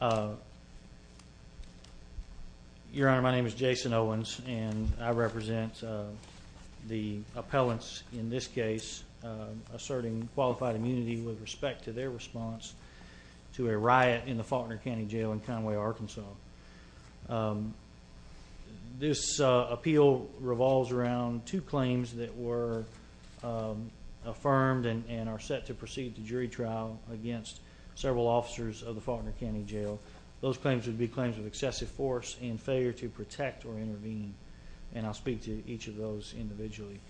Your Honor, my name is Jason Owens, and I represent the appellants in this case asserting qualified immunity with respect to their response to a riot in the Faulkner County Jail in Conway, Arkansas. This appeal revolves around two claims that were affirmed and are set to proceed to jury trial against several officers of the Faulkner County Jail. Those claims would be claims of excessive force and failure to protect or intervene, and I'll speak to each of those individually.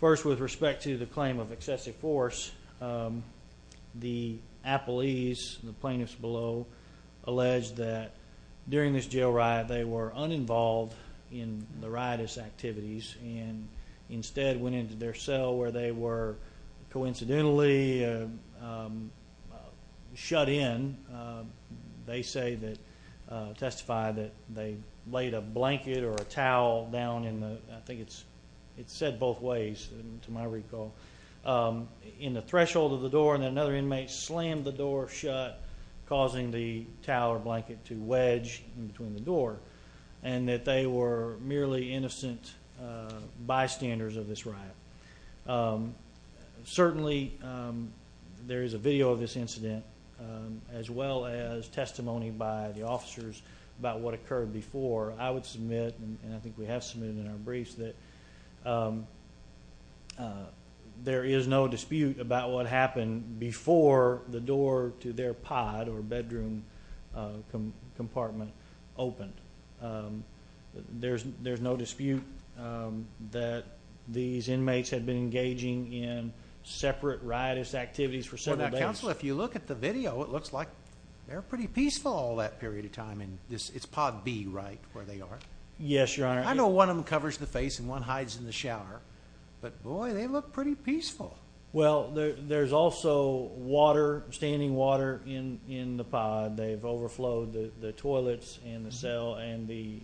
First with respect to the claim of excessive force, the appellees, the plaintiffs below, alleged that during this jail riot they were uninvolved in the riotous activities and instead went into their cell where they were coincidentally shut in. They say that, testify that they laid a blanket or a towel down in the, I think it's said both ways to my recall, in the threshold of the door and then another inmate slammed the door shut causing the towel or blanket to wedge in between the door, and that they were clearly innocent bystanders of this riot. Certainly there is a video of this incident as well as testimony by the officers about what occurred before. I would submit, and I think we have submitted in our briefs, that there is no dispute about what happened before the door to their pod or bedroom compartment opened. There's no dispute that these inmates had been engaging in separate riotous activities for several days. Well now, Counselor, if you look at the video, it looks like they're pretty peaceful all that period of time. It's pod B, right, where they are? Yes, Your Honor. I know one of them covers the face and one hides in the shower, but boy, they look pretty peaceful. Well, there's also water, standing water in the pod. They've overflowed the toilets and the cell and the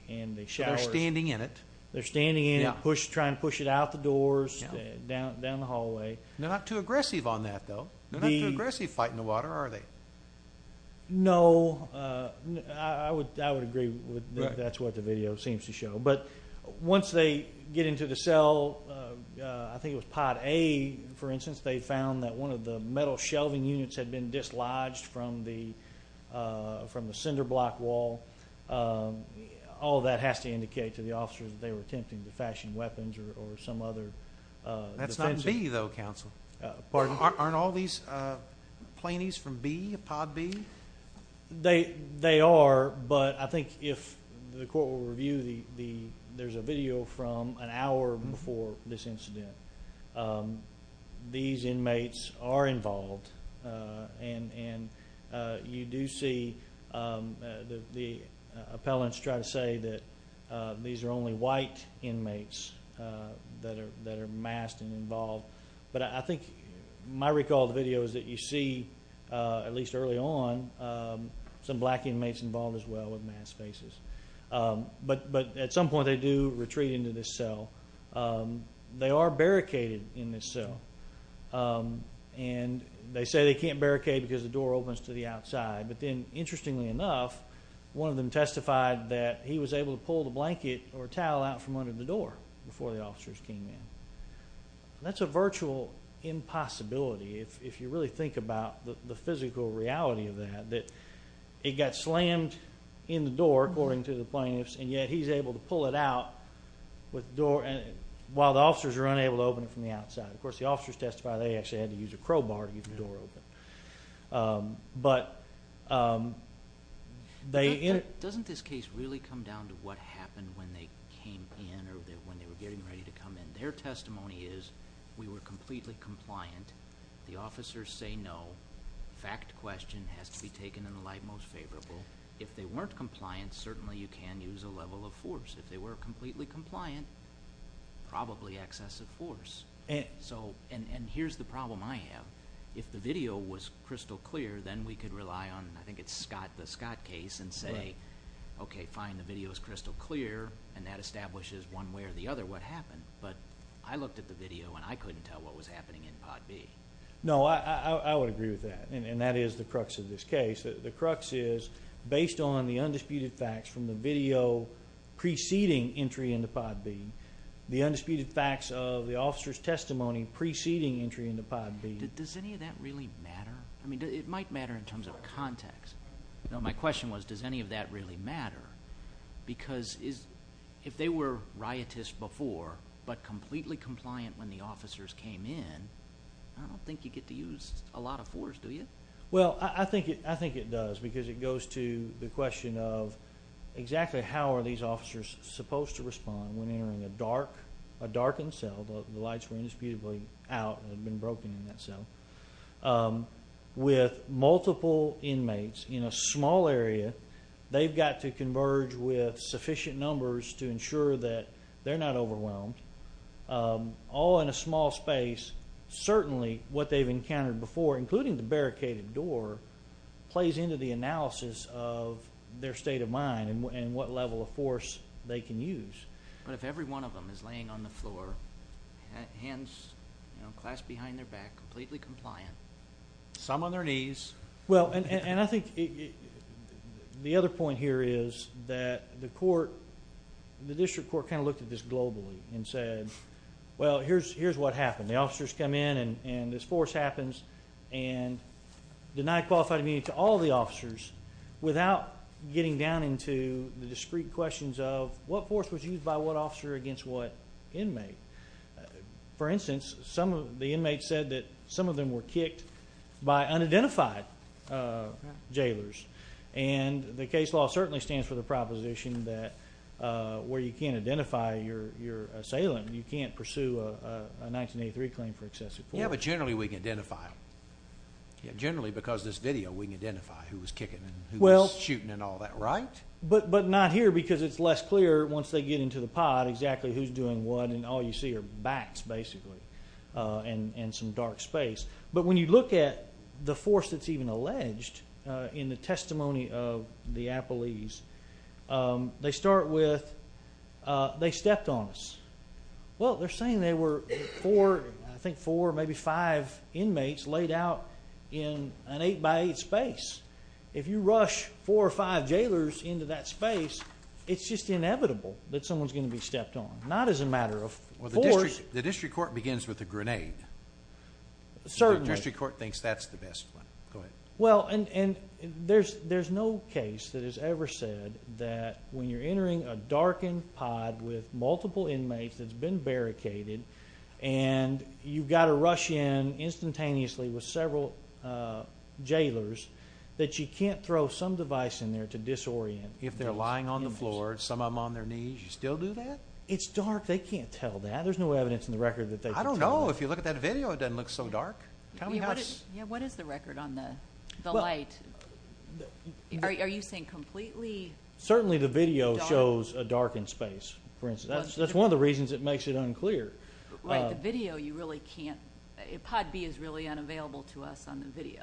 showers. So they're standing in it? They're standing in it, trying to push it out the doors, down the hallway. They're not too aggressive on that, though. They're not too aggressive fighting the water, are they? No, I would agree with that. That's what the video seems to show. But once they get into the cell, I think it was pod A, for instance, they found that one of the metal shelving units had been dislodged from the cinder block wall. All that has to indicate to the officers that they were attempting to fashion weapons or some other defense. That's not B, though, Counselor. Pardon? Aren't all these plaintiffs from B, pod B? They are, but I think if the court will review, there's a video from an hour before this incident. These inmates are involved, and you do see the appellants try to say that these are only white inmates that are masked and involved. But I think my recall of the video is that you see, at least early on, some black inmates involved as well with masked faces. But at some point, they do retreat into this cell. They are barricaded in this cell, and they say they can't barricade because the door opens to the outside. But then, interestingly enough, one of them testified that he was able to pull the blanket or towel out from under the door before the officers came in. That's a virtual impossibility, if you really think about the physical reality of that, that it got slammed in the door, according to the plaintiffs, and yet he's able to pull it out while the officers are unable to open it from the outside. Of course, the officers testify they actually had to use a crowbar to get the door open. But they... Doesn't this case really come down to what happened when they came in or when they were getting ready to come in? Their testimony is, we were completely compliant. The officers say no. Fact question has to be taken in the light most favorable. If they weren't compliant, certainly you can use a level of force. If they weren't compliant, certainly you can use a level of force. If they were completely compliant, probably excessive force. And here's the problem I have. If the video was crystal clear, then we could rely on, I think it's the Scott case, and say, okay, fine, the video is crystal clear, and that establishes one way or the other what happened. But I looked at the video, and I couldn't tell what was happening in pod B. No, I would agree with that, and that is the crux of this case. The crux is, based on the undisputed facts from the video preceding entry into pod B, the undisputed facts of the officer's testimony preceding entry into pod B... Does any of that really matter? It might matter in terms of context. My question was, does any of that really matter? Because if they were riotous before, but completely compliant when the officers came in, I don't think you get to use a lot of force, do you? Well, I think it does, because it goes to the question of exactly how are these officers supposed to respond when entering a darkened cell, the lights were indisputably out, and had been broken in that cell, with multiple inmates in a small area, they've got to converge with sufficient numbers to ensure that they're not overwhelmed, all in a small space. Certainly, what they've encountered before, including the barricaded door, plays into the analysis of their state of mind and what level of force they can use. But if every one of them is laying on the floor, hands clasped behind their back, completely compliant, some on their knees... And I think the other point here is that the court, the district court kind of looked at this globally and said, well, here's what happened. The officers come in and this force happens, and denied qualified immunity to all the officers without getting down into the discrete questions of what force was used by what officer against what inmate. For instance, the inmates said that some of them were kicked by unidentified jailers. And the case law certainly stands for the proposition that where you can't identify your assailant, you can't pursue a 1983 claim for excessive force. Yeah, but generally we can identify them. Generally because of this video, we can identify who was kicking and who was shooting and all that, right? But not here, because it's less clear once they get into the pod exactly who's doing what and all you see are bats, basically, and some dark space. But when you look at the force that's even alleged in the testimony of the appellees, they start with, they stepped on us. Well, they're saying there were four, I think four, maybe five inmates laid out in an eight by eight space. If you rush four or five jailers into that space, it's just inevitable that someone's going to be stepped on. Not as a matter of force. The district court begins with a grenade. District court thinks that's the best plan. Well, and there's no case that has ever said that when you're entering a darkened pod with multiple inmates that's been barricaded, and you've got to rush in instantaneously with several jailers, that you can't throw some device in there to disorient them. If they're lying on the floor, some of them on their knees, you still do that? It's dark. They can't tell that. There's no evidence in the record that they can tell. I don't know. If you look at that video, it doesn't look so dark. Tell me how it's... Yeah. What is the record on the light? Well... Are you saying completely dark? Certainly the video shows a darkened space, for instance. That's one of the reasons it makes it unclear. Right. The video, you really can't... Pod B is really unavailable to us on the video.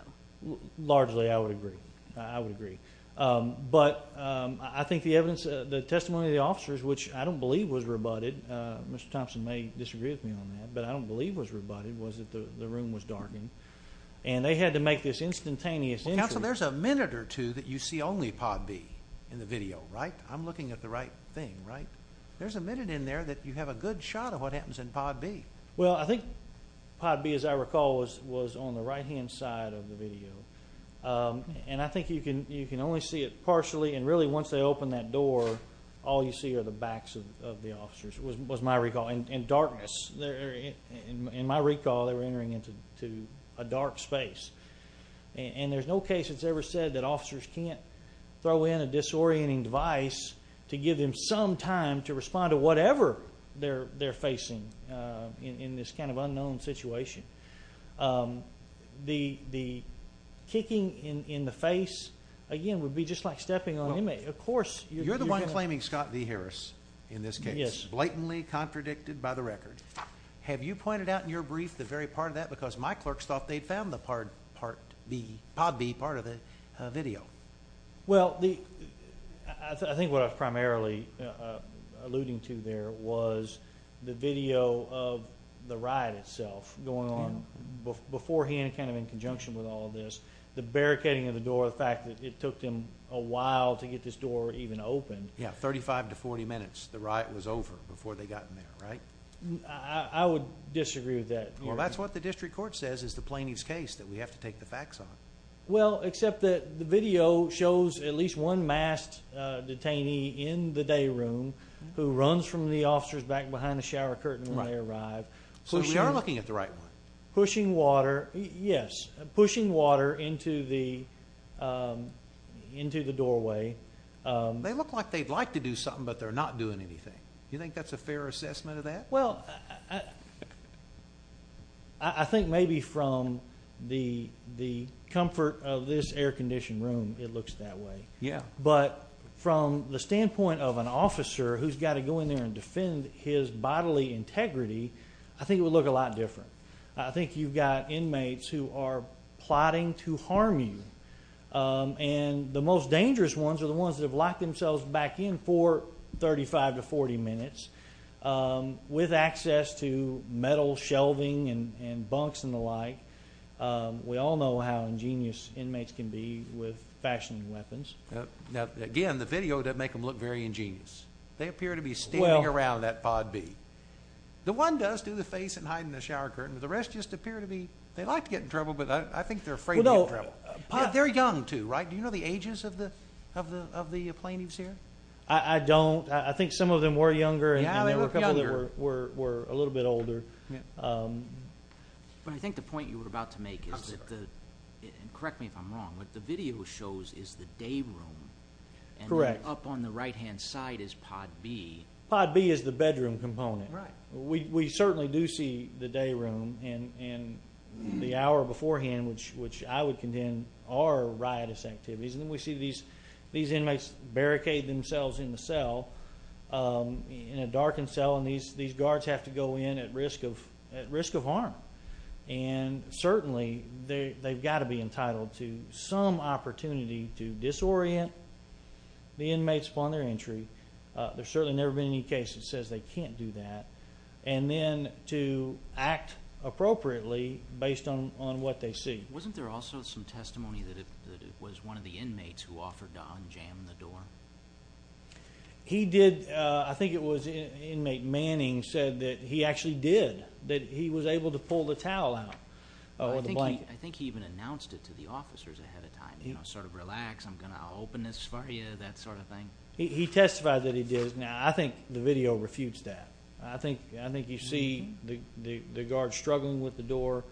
Largely I would agree. I would agree. But I think the evidence, the testimony of the officers, which I don't believe was rebutted, Mr. Thompson may disagree with me on that, but I don't believe was rebutted, was that the room was darkened. And they had to make this instantaneous entry. Well, counsel, there's a minute or two that you see only Pod B in the video, right? I'm looking at the right thing, right? There's a minute in there that you have a good shot of what happens in Pod B. Well, I think Pod B, as I recall, was on the right-hand side of the video. And I think you can only see it partially, and really once they open that door, all you see are the backs of the officers, was my recall. And darkness, in my recall, they were entering into a dark space. And there's no case that's ever said that officers can't throw in a disorienting device to give them some time to respond to whatever they're facing in this kind of unknown situation. The kicking in the face, again, would be just like stepping on an inmate. Of course... You're the one claiming Scott V. Harris, in this case, blatantly contradicted by the record. Have you pointed out in your brief the very part of that? Because my clerks thought they'd found the Pod B part of the video. Well, I think what I was primarily alluding to there was the video of the riot itself going on beforehand, kind of in conjunction with all of this, the barricading of the door, the fact that it took them a while to get this door even opened. Yeah, 35 to 40 minutes, the riot was over before they got in there, right? I would disagree with that. Well, that's what the district court says is the plaintiff's case that we have to take the facts on. Well, except that the video shows at least one masked detainee in the day room who runs from the officers back behind the shower curtain when they arrive. So you're looking at the right one. Yes, pushing water into the doorway. They look like they'd like to do something, but they're not doing anything. Do you think that's a fair assessment of that? Well, I think maybe from the comfort of this air-conditioned room, it looks that way. Yeah. But from the standpoint of an officer who's got to go in there and defend his bodily integrity, I think it would look a lot different. I think you've got inmates who are plotting to harm you. And the most dangerous ones are the ones that have locked themselves back in for 35 to 40 minutes with access to metal shelving and bunks and the like. We all know how ingenious inmates can be with fashioning weapons. Now, again, the video doesn't make them look very ingenious. They appear to be standing around in that pod B. The one does do the face and hide in the shower curtain. The rest just appear to be they like to get in trouble, but I think they're afraid to get in trouble. They're young too, right? Do you know the ages of the plaintiffs here? I don't. I think some of them were younger, and there were a couple that were a little bit older. I think the point you were about to make is that the—correct me if I'm wrong— what the video shows is the day room, and up on the right-hand side is pod B. Pod B is the bedroom component. We certainly do see the day room and the hour beforehand, which I would contend are riotous activities. And then we see these inmates barricade themselves in the cell, in a darkened cell, and these guards have to go in at risk of harm. And certainly they've got to be entitled to some opportunity to disorient the inmates upon their entry. There's certainly never been any case that says they can't do that. And then to act appropriately based on what they see. Wasn't there also some testimony that it was one of the inmates who offered to unjam the door? He did. I think it was inmate Manning said that he actually did, that he was able to pull the towel out. I think he even announced it to the officers ahead of time, you know, sort of relax, I'm going to open this for you, that sort of thing. He testified that he did. Now, I think the video refutes that. I think you see the guards struggling with the door.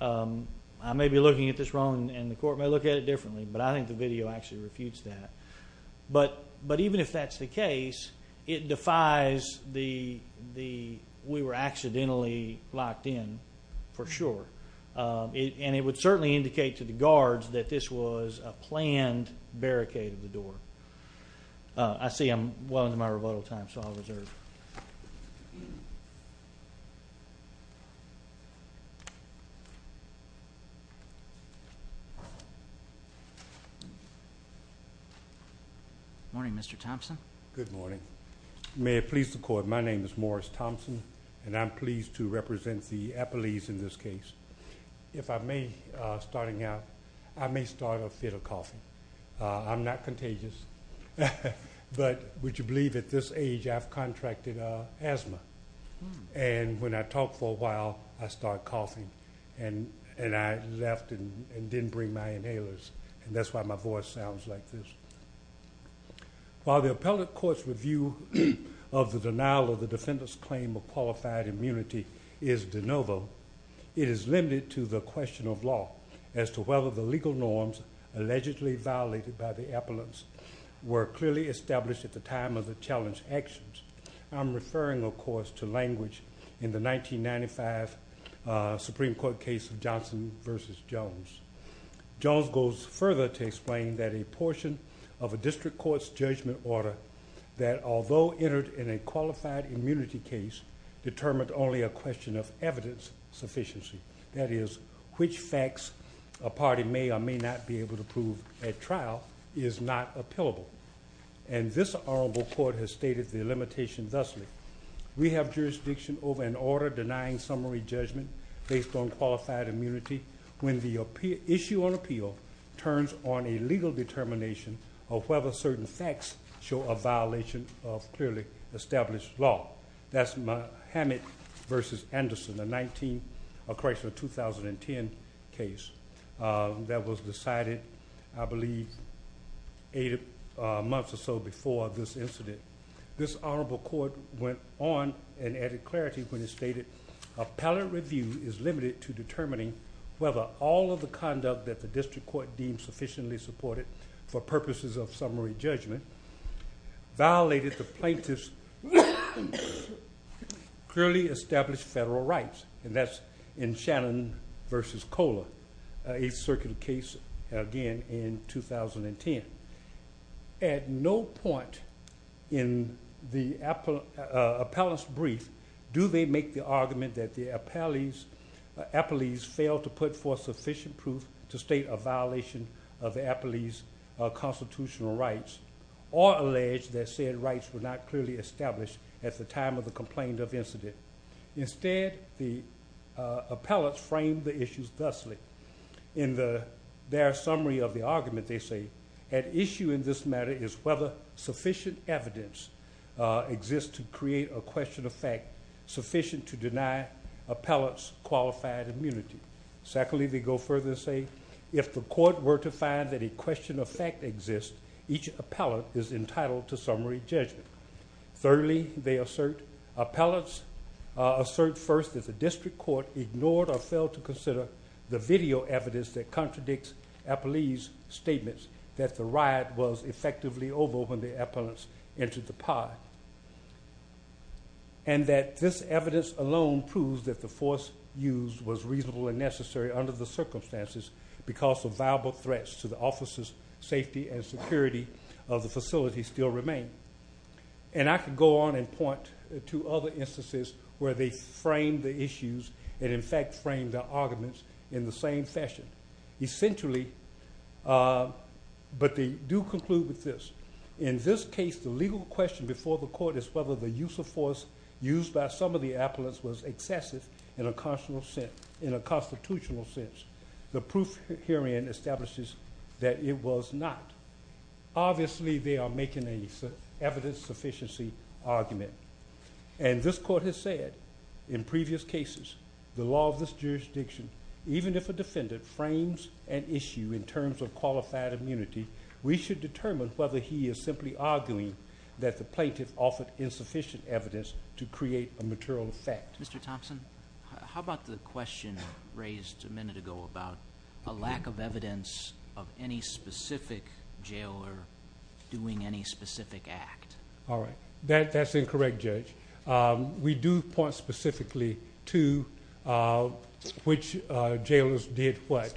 I may be looking at this wrong, and the court may look at it differently, but I think the video actually refutes that. But even if that's the case, it defies the we were accidentally locked in for sure. And it would certainly indicate to the guards that this was a planned barricade of the door. I see I'm well into my rebuttal time, so I'll reserve. Morning, Mr. Thompson. Good morning. May it please the court, my name is Morris Thompson, and I'm pleased to represent the appellees in this case. If I may, starting out, I may start off with a coffee. I'm not contagious, but would you believe at this age I've contracted asthma, and when I talk for a while I start coughing, and I left and didn't bring my inhalers, and that's why my voice sounds like this. While the appellate court's review of the denial of the defendant's claim of qualified immunity is de novo, it is limited to the question of law as to whether the legal norms allegedly violated by the appellants were clearly established at the time of the challenged actions. I'm referring, of course, to language in the 1995 Supreme Court case of Johnson v. Jones. Jones goes further to explain that a portion of a district court's judgment order that, although entered in a qualified immunity case, determined only a question of evidence sufficiency, that is, which facts a party may or may not be able to prove at trial, is not appealable. And this honorable court has stated the limitation thusly. We have jurisdiction over an order denying summary judgment based on qualified immunity when the issue on appeal turns on a legal determination of whether certain facts show a violation of clearly established law. That's Hammett v. Anderson, a correctional 2010 case that was decided, I believe, eight months or so before this incident. This honorable court went on and added clarity when it stated appellant review is limited to determining whether all of the conduct that the district court deemed sufficiently supported for purposes of summary judgment violated the plaintiff's clearly established federal rights. And that's in Shannon v. Kohler, a circuit case again in 2010. At no point in the appellant's brief do they make the argument that the appellees failed to put forth sufficient proof to state a violation of the appellee's constitutional rights or allege that said rights were not clearly established at the time of the complaint of the incident. Instead, the appellants framed the issues thusly. In their summary of the argument, they say, an issue in this matter is whether sufficient evidence exists to create a question of fact sufficient to deny appellants qualified immunity. Secondly, they go further and say, if the court were to find that a question of fact exists, each appellant is entitled to summary judgment. Thirdly, they assert, appellants assert first that the district court ignored or failed to consider the video evidence that contradicts appellee's statements that the riot was effectively over when the appellants entered the pod. And that this evidence alone proves that the force used was reasonable and necessary under the circumstances because of viable threats to the officers' safety and security of the facility still remain. And I could go on and point to other instances where they framed the issues and in fact framed their arguments in the same fashion. Essentially, but they do conclude with this. In this case, the legal question before the court is whether the use of force used by some of the appellants was excessive in a constitutional sense. The proof herein establishes that it was not. Obviously, they are making an evidence sufficiency argument. And this court has said, in previous cases, the law of this jurisdiction, even if a defendant frames an issue in terms of qualified immunity, we should determine whether he is simply arguing that the plaintiff offered insufficient evidence to create a material fact. Mr. Thompson, how about the question raised a minute ago about a lack of evidence of any specific jailer doing any specific act? All right. That's incorrect, Judge. We do point specifically to which jailers did what.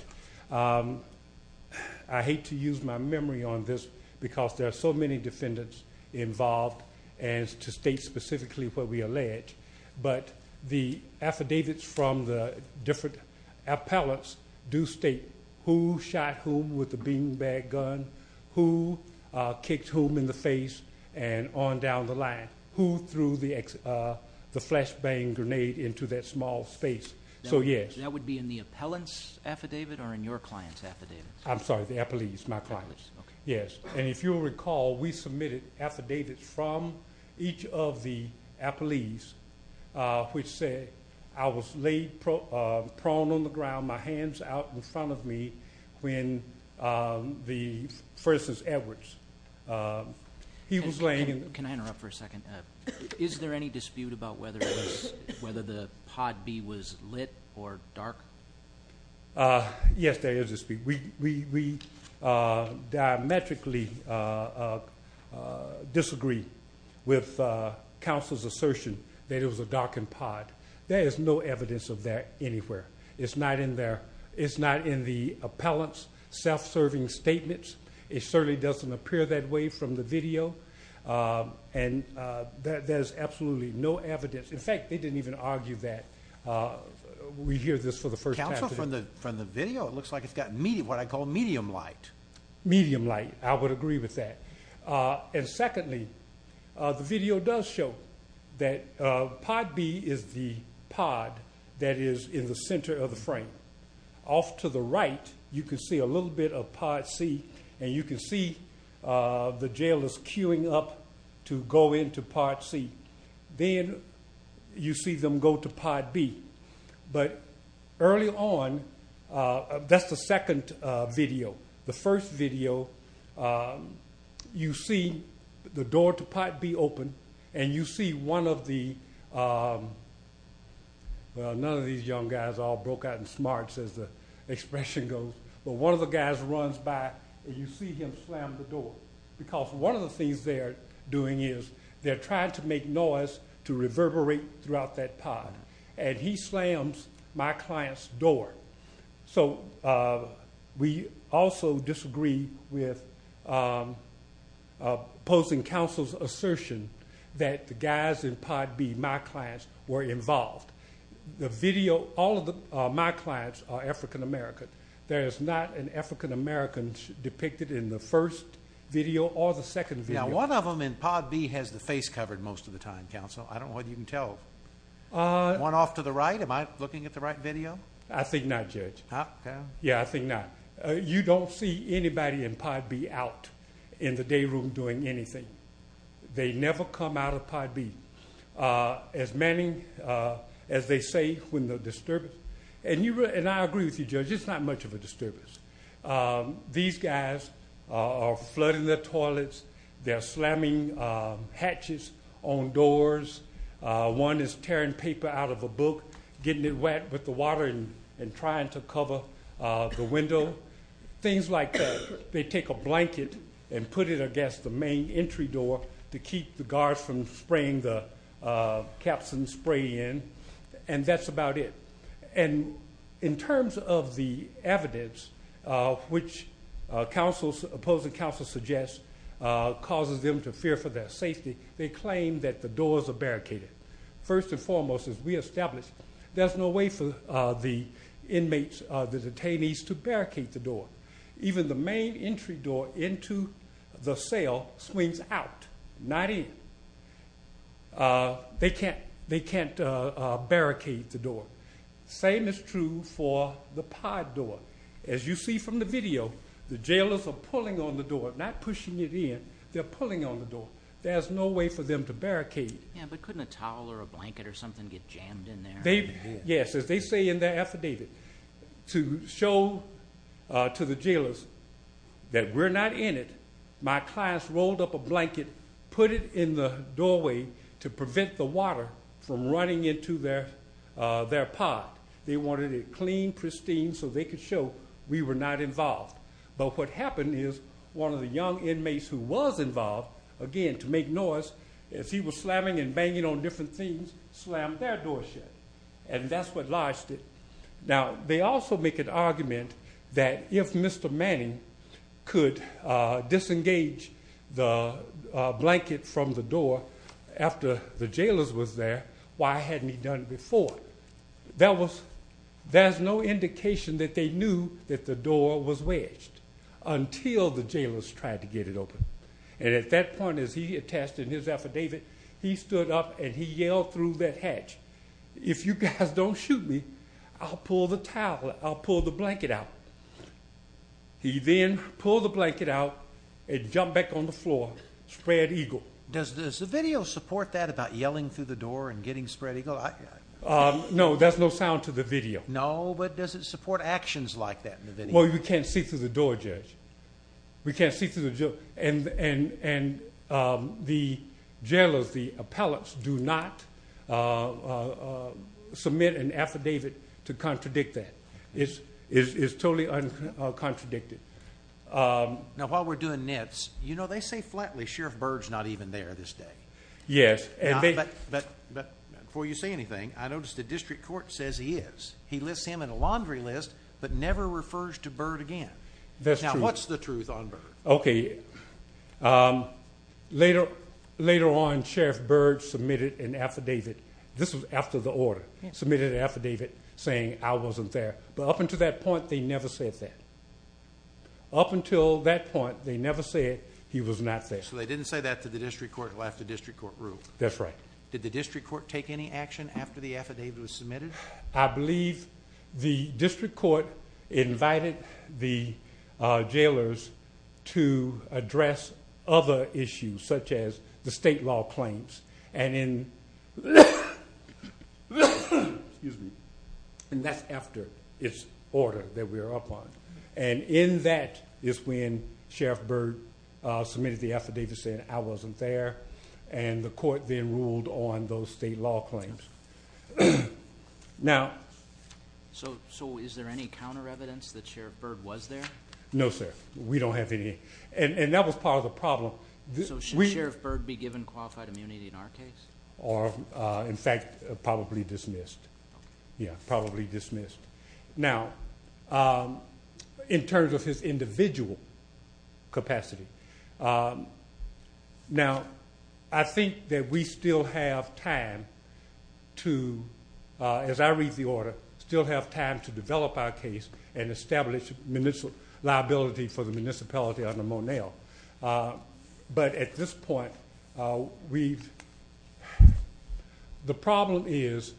I hate to use my memory on this because there are so many defendants involved and to state specifically what we allege. But the affidavits from the different appellants do state who shot whom with the beanbag gun, who kicked whom in the face, and on down the line, who threw the flashbang grenade into that small space. So, yes. That would be in the appellant's affidavit or in your client's affidavit? I'm sorry, the appellee's, my client's. Yes. And if you'll recall, we submitted affidavits from each of the appellees which said, I was laid prone on the ground, my hands out in front of me when the first is Edwards. He was laying in the- Can I interrupt for a second? Is there any dispute about whether the pod B was lit or dark? Yes, there is a dispute. We diametrically disagree with counsel's assertion that it was a darkened pod. There is no evidence of that anywhere. It's not in the appellant's self-serving statements. It certainly doesn't appear that way from the video, and there's absolutely no evidence. In fact, they didn't even argue that. We hear this for the first time today. From the video, it looks like it's got what I call medium light. Medium light. I would agree with that. And secondly, the video does show that pod B is the pod that is in the center of the frame. Off to the right, you can see a little bit of pod C, and you can see the jail is queuing up to go into pod C. Then you see them go to pod B. But early on, that's the second video. The first video, you see the door to pod B open, and you see one of the – well, none of these young guys are all broke-out and smart, as the expression goes. But one of the guys runs by, and you see him slam the door, because one of the things they're doing is they're trying to make noise to reverberate throughout that pod. And he slams my client's door. So we also disagree with opposing counsel's assertion that the guys in pod B, my clients, were involved. The video – all of my clients are African American. There is not an African American depicted in the first video or the second video. Now, one of them in pod B has the face covered most of the time, counsel. I don't know whether you can tell. The one off to the right, am I looking at the right video? I think not, Judge. Okay. Yeah, I think not. You don't see anybody in pod B out in the day room doing anything. They never come out of pod B, as many as they say when they're disturbed. And I agree with you, Judge. It's not much of a disturbance. These guys are flooding their toilets. They're slamming hatches on doors. One is tearing paper out of a book, getting it wet with the water and trying to cover the window. Things like that. They take a blanket and put it against the main entry door to keep the guards from spraying the caps and spray in. And that's about it. And in terms of the evidence, which opposing counsel suggests causes them to fear for their safety, they claim that the doors are barricaded. First and foremost, as we established, there's no way for the inmates, the detainees, to barricade the door. Even the main entry door into the cell swings out, not in. They can't barricade the door. Same is true for the pod door. As you see from the video, the jailers are pulling on the door, not pushing it in. They're pulling on the door. There's no way for them to barricade it. Yeah, but couldn't a towel or a blanket or something get jammed in there? Yes, as they say in their affidavit, to show to the jailers that we're not in it, my clients rolled up a blanket, put it in the doorway to prevent the water from running into their pod. They wanted it clean, pristine, so they could show we were not involved. But what happened is one of the young inmates who was involved, again, to make noise, as he was slamming and banging on different things, slammed their door shut. And that's what lodged it. Now, they also make an argument that if Mr. Manning could disengage the blanket from the door after the jailers was there, why hadn't he done it before? There's no indication that they knew that the door was wedged until the jailers tried to get it open. And at that point, as he attested in his affidavit, he stood up and he yelled through that hatch, if you guys don't shoot me, I'll pull the towel, I'll pull the blanket out. He then pulled the blanket out and jumped back on the floor, spread eagle. Does the video support that about yelling through the door and getting spread eagle? No, there's no sound to the video. No, but does it support actions like that in the video? We can't see through the jail. And the jailers, the appellates, do not submit an affidavit to contradict that. It's totally uncontradicted. Now, while we're doing nits, you know, they say flatly Sheriff Byrd's not even there this day. Yes. But before you say anything, I noticed the district court says he is. He lists him in a laundry list but never refers to Byrd again. That's true. Now, what's the truth on Byrd? Okay. Later on, Sheriff Byrd submitted an affidavit. This was after the order. Submitted an affidavit saying I wasn't there. But up until that point, they never said that. Up until that point, they never said he was not there. So they didn't say that until the district court left the district court room. Did the district court take any action after the affidavit was submitted? I believe the district court invited the jailers to address other issues such as the state law claims. And that's after this order that we're up on. And in that is when Sheriff Byrd submitted the affidavit saying I wasn't there. And the court then ruled on those state law claims. Now. So is there any counter evidence that Sheriff Byrd was there? No, sir. We don't have any. And that was part of the problem. So should Sheriff Byrd be given qualified immunity in our case? Or, in fact, probably dismissed. Yeah, probably dismissed. Now, in terms of his individual capacity, Now, I think that we still have time to, as I read the order, still have time to develop our case and establish liability for the municipality under Monell. But at this point, we've the problem is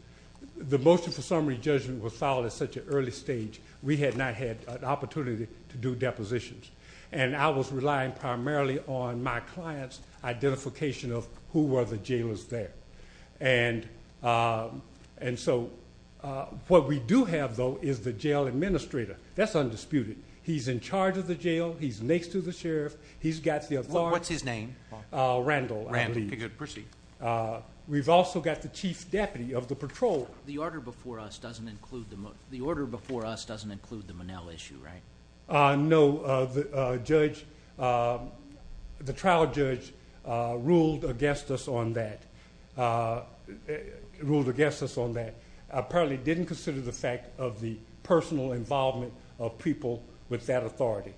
the motion for summary judgment was filed at such an early stage. We had not had an opportunity to do depositions. And I was relying primarily on my client's identification of who were the jailers there. And so what we do have, though, is the jail administrator. That's undisputed. He's in charge of the jail. He's next to the sheriff. He's got the authority. What's his name? Randall. Randall. Proceed. We've also got the chief deputy of the patrol. The order before us doesn't include the Monell issue, right? No. The trial judge ruled against us on that, ruled against us on that. Apparently didn't consider the fact of the personal involvement of people with that authority.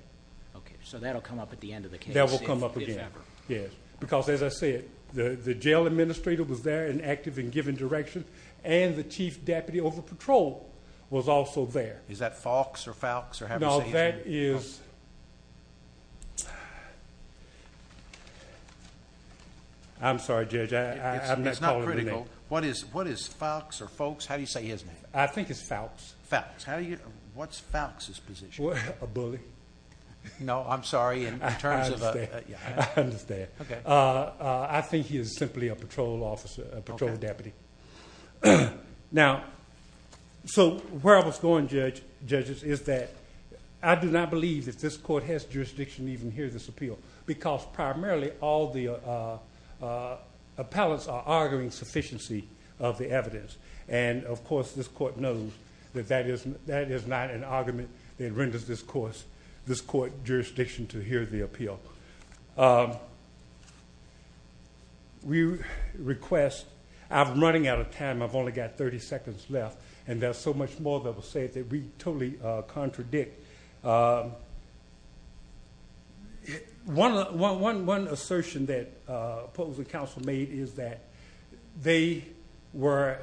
Okay. So that will come up at the end of the case. That will come up again. Yes. Because, as I said, the jail administrator was there and active in giving direction, and the chief deputy over patrol was also there. Is that Falks or Falks? No, that is. I'm sorry, Judge. I'm not calling him a name. It's not critical. What is Falks or Falks? How do you say his name? I think it's Falks. Falks. How do you? What's Falks' position? A bully. No, I'm sorry. In terms of a... I understand. I understand. Okay. I think he is simply a patrol officer, a patrol deputy. Okay. Now, so where I was going, judges, is that I do not believe that this court has jurisdiction to even hear this appeal because primarily all the appellants are arguing sufficiency of the evidence. And, of course, this court knows that that is not an argument that renders this court jurisdiction to hear the appeal. We request... I'm running out of time. I've only got 30 seconds left, and there's so much more that was said that we totally contradict. One assertion that opposing counsel made is that they were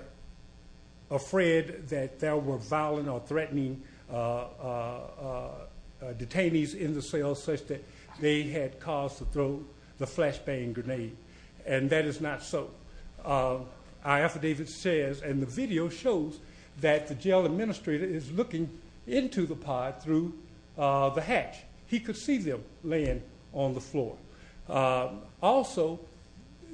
afraid that there were violent or threatening detainees in the cell such that they had cause to throw the flashbang grenade, and that is not so. Our affidavit says, and the video shows, that the jail administrator is looking into the pod through the hatch. He could see them laying on the floor. Also,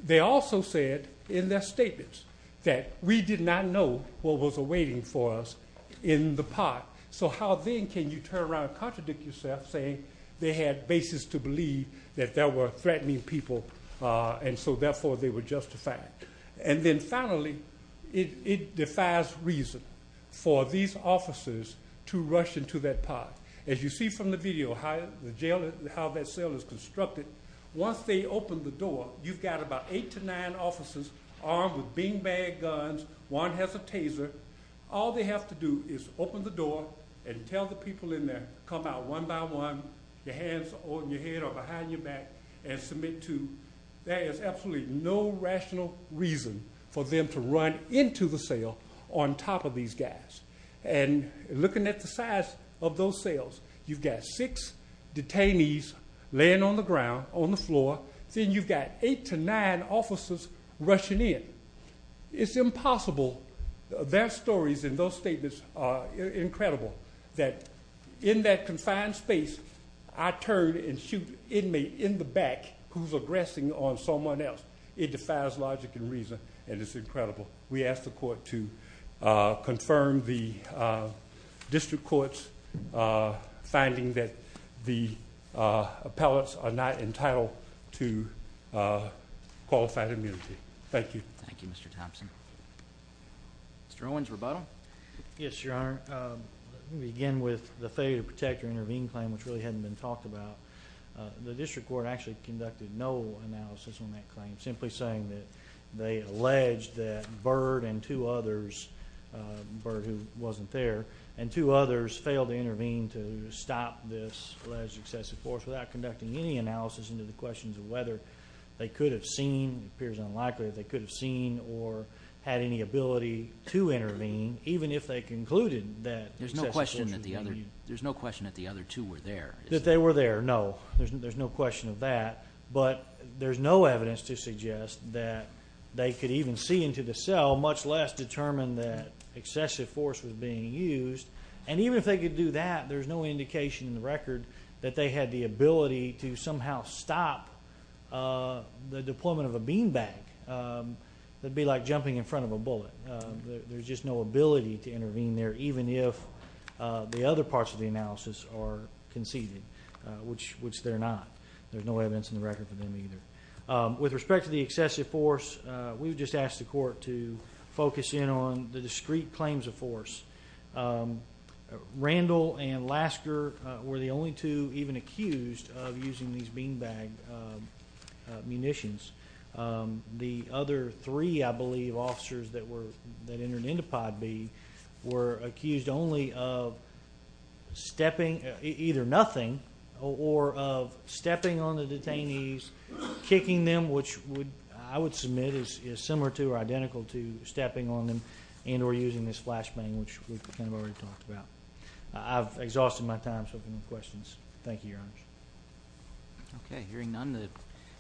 they also said in their statements that we did not know what was awaiting for us in the pod. So how then can you turn around and contradict yourself saying they had basis to believe that there were threatening people, and so therefore they were justified? And then finally, it defies reason for these officers to rush into that pod. As you see from the video how that cell is constructed, once they open the door, you've got about eight to nine officers armed with beanbag guns. One has a taser. All they have to do is open the door and tell the people in there, come out one by one, your hands on your head or behind your back, and submit to. There is absolutely no rational reason for them to run into the cell on top of these guys. And looking at the size of those cells, you've got six detainees laying on the ground on the floor. Then you've got eight to nine officers rushing in. It's impossible. Their stories in those statements are incredible. That in that confined space, I turn and shoot an inmate in the back who's aggressing on someone else. It defies logic and reason, and it's incredible. We ask the court to confirm the district court's finding that the appellants are not entitled to qualified immunity. Thank you. Thank you, Mr. Thompson. Mr. Owens, rebuttal? Yes, Your Honor. Let me begin with the failure to protect or intervene claim, which really hadn't been talked about. The district court actually conducted no analysis on that claim, simply saying that they alleged that Byrd and two others, Byrd who wasn't there, and two others failed to intervene to stop this alleged excessive force without conducting any analysis into the questions of whether they could have seen, it appears unlikely that they could have seen or had any ability to intervene, even if they concluded that excessive force was being used. There's no question that the other two were there, is there? That they were there, no. There's no question of that. But there's no evidence to suggest that they could even see into the cell, much less determine that excessive force was being used. And even if they could do that, there's no indication in the record that they had the deployment of a bean bag. That'd be like jumping in front of a bullet. There's just no ability to intervene there, even if the other parts of the analysis are conceded, which they're not. There's no evidence in the record for them either. With respect to the excessive force, we've just asked the court to focus in on the discreet claims of force. Randall and Lasker were the only two even accused of using these bean bag munitions. The other three, I believe, officers that entered into Pod B were accused only of stepping, either nothing, or of stepping on the detainees, kicking them, which I would submit is similar to or identical to stepping on them and or using this flashbang, which we kind of already talked about. I've exhausted my time, so if you have any questions. Thank you, Your Honor. Okay, hearing none, I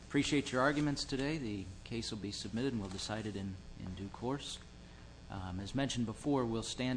appreciate your arguments today. The case will be submitted and will be decided in due course. As mentioned before, we'll stand.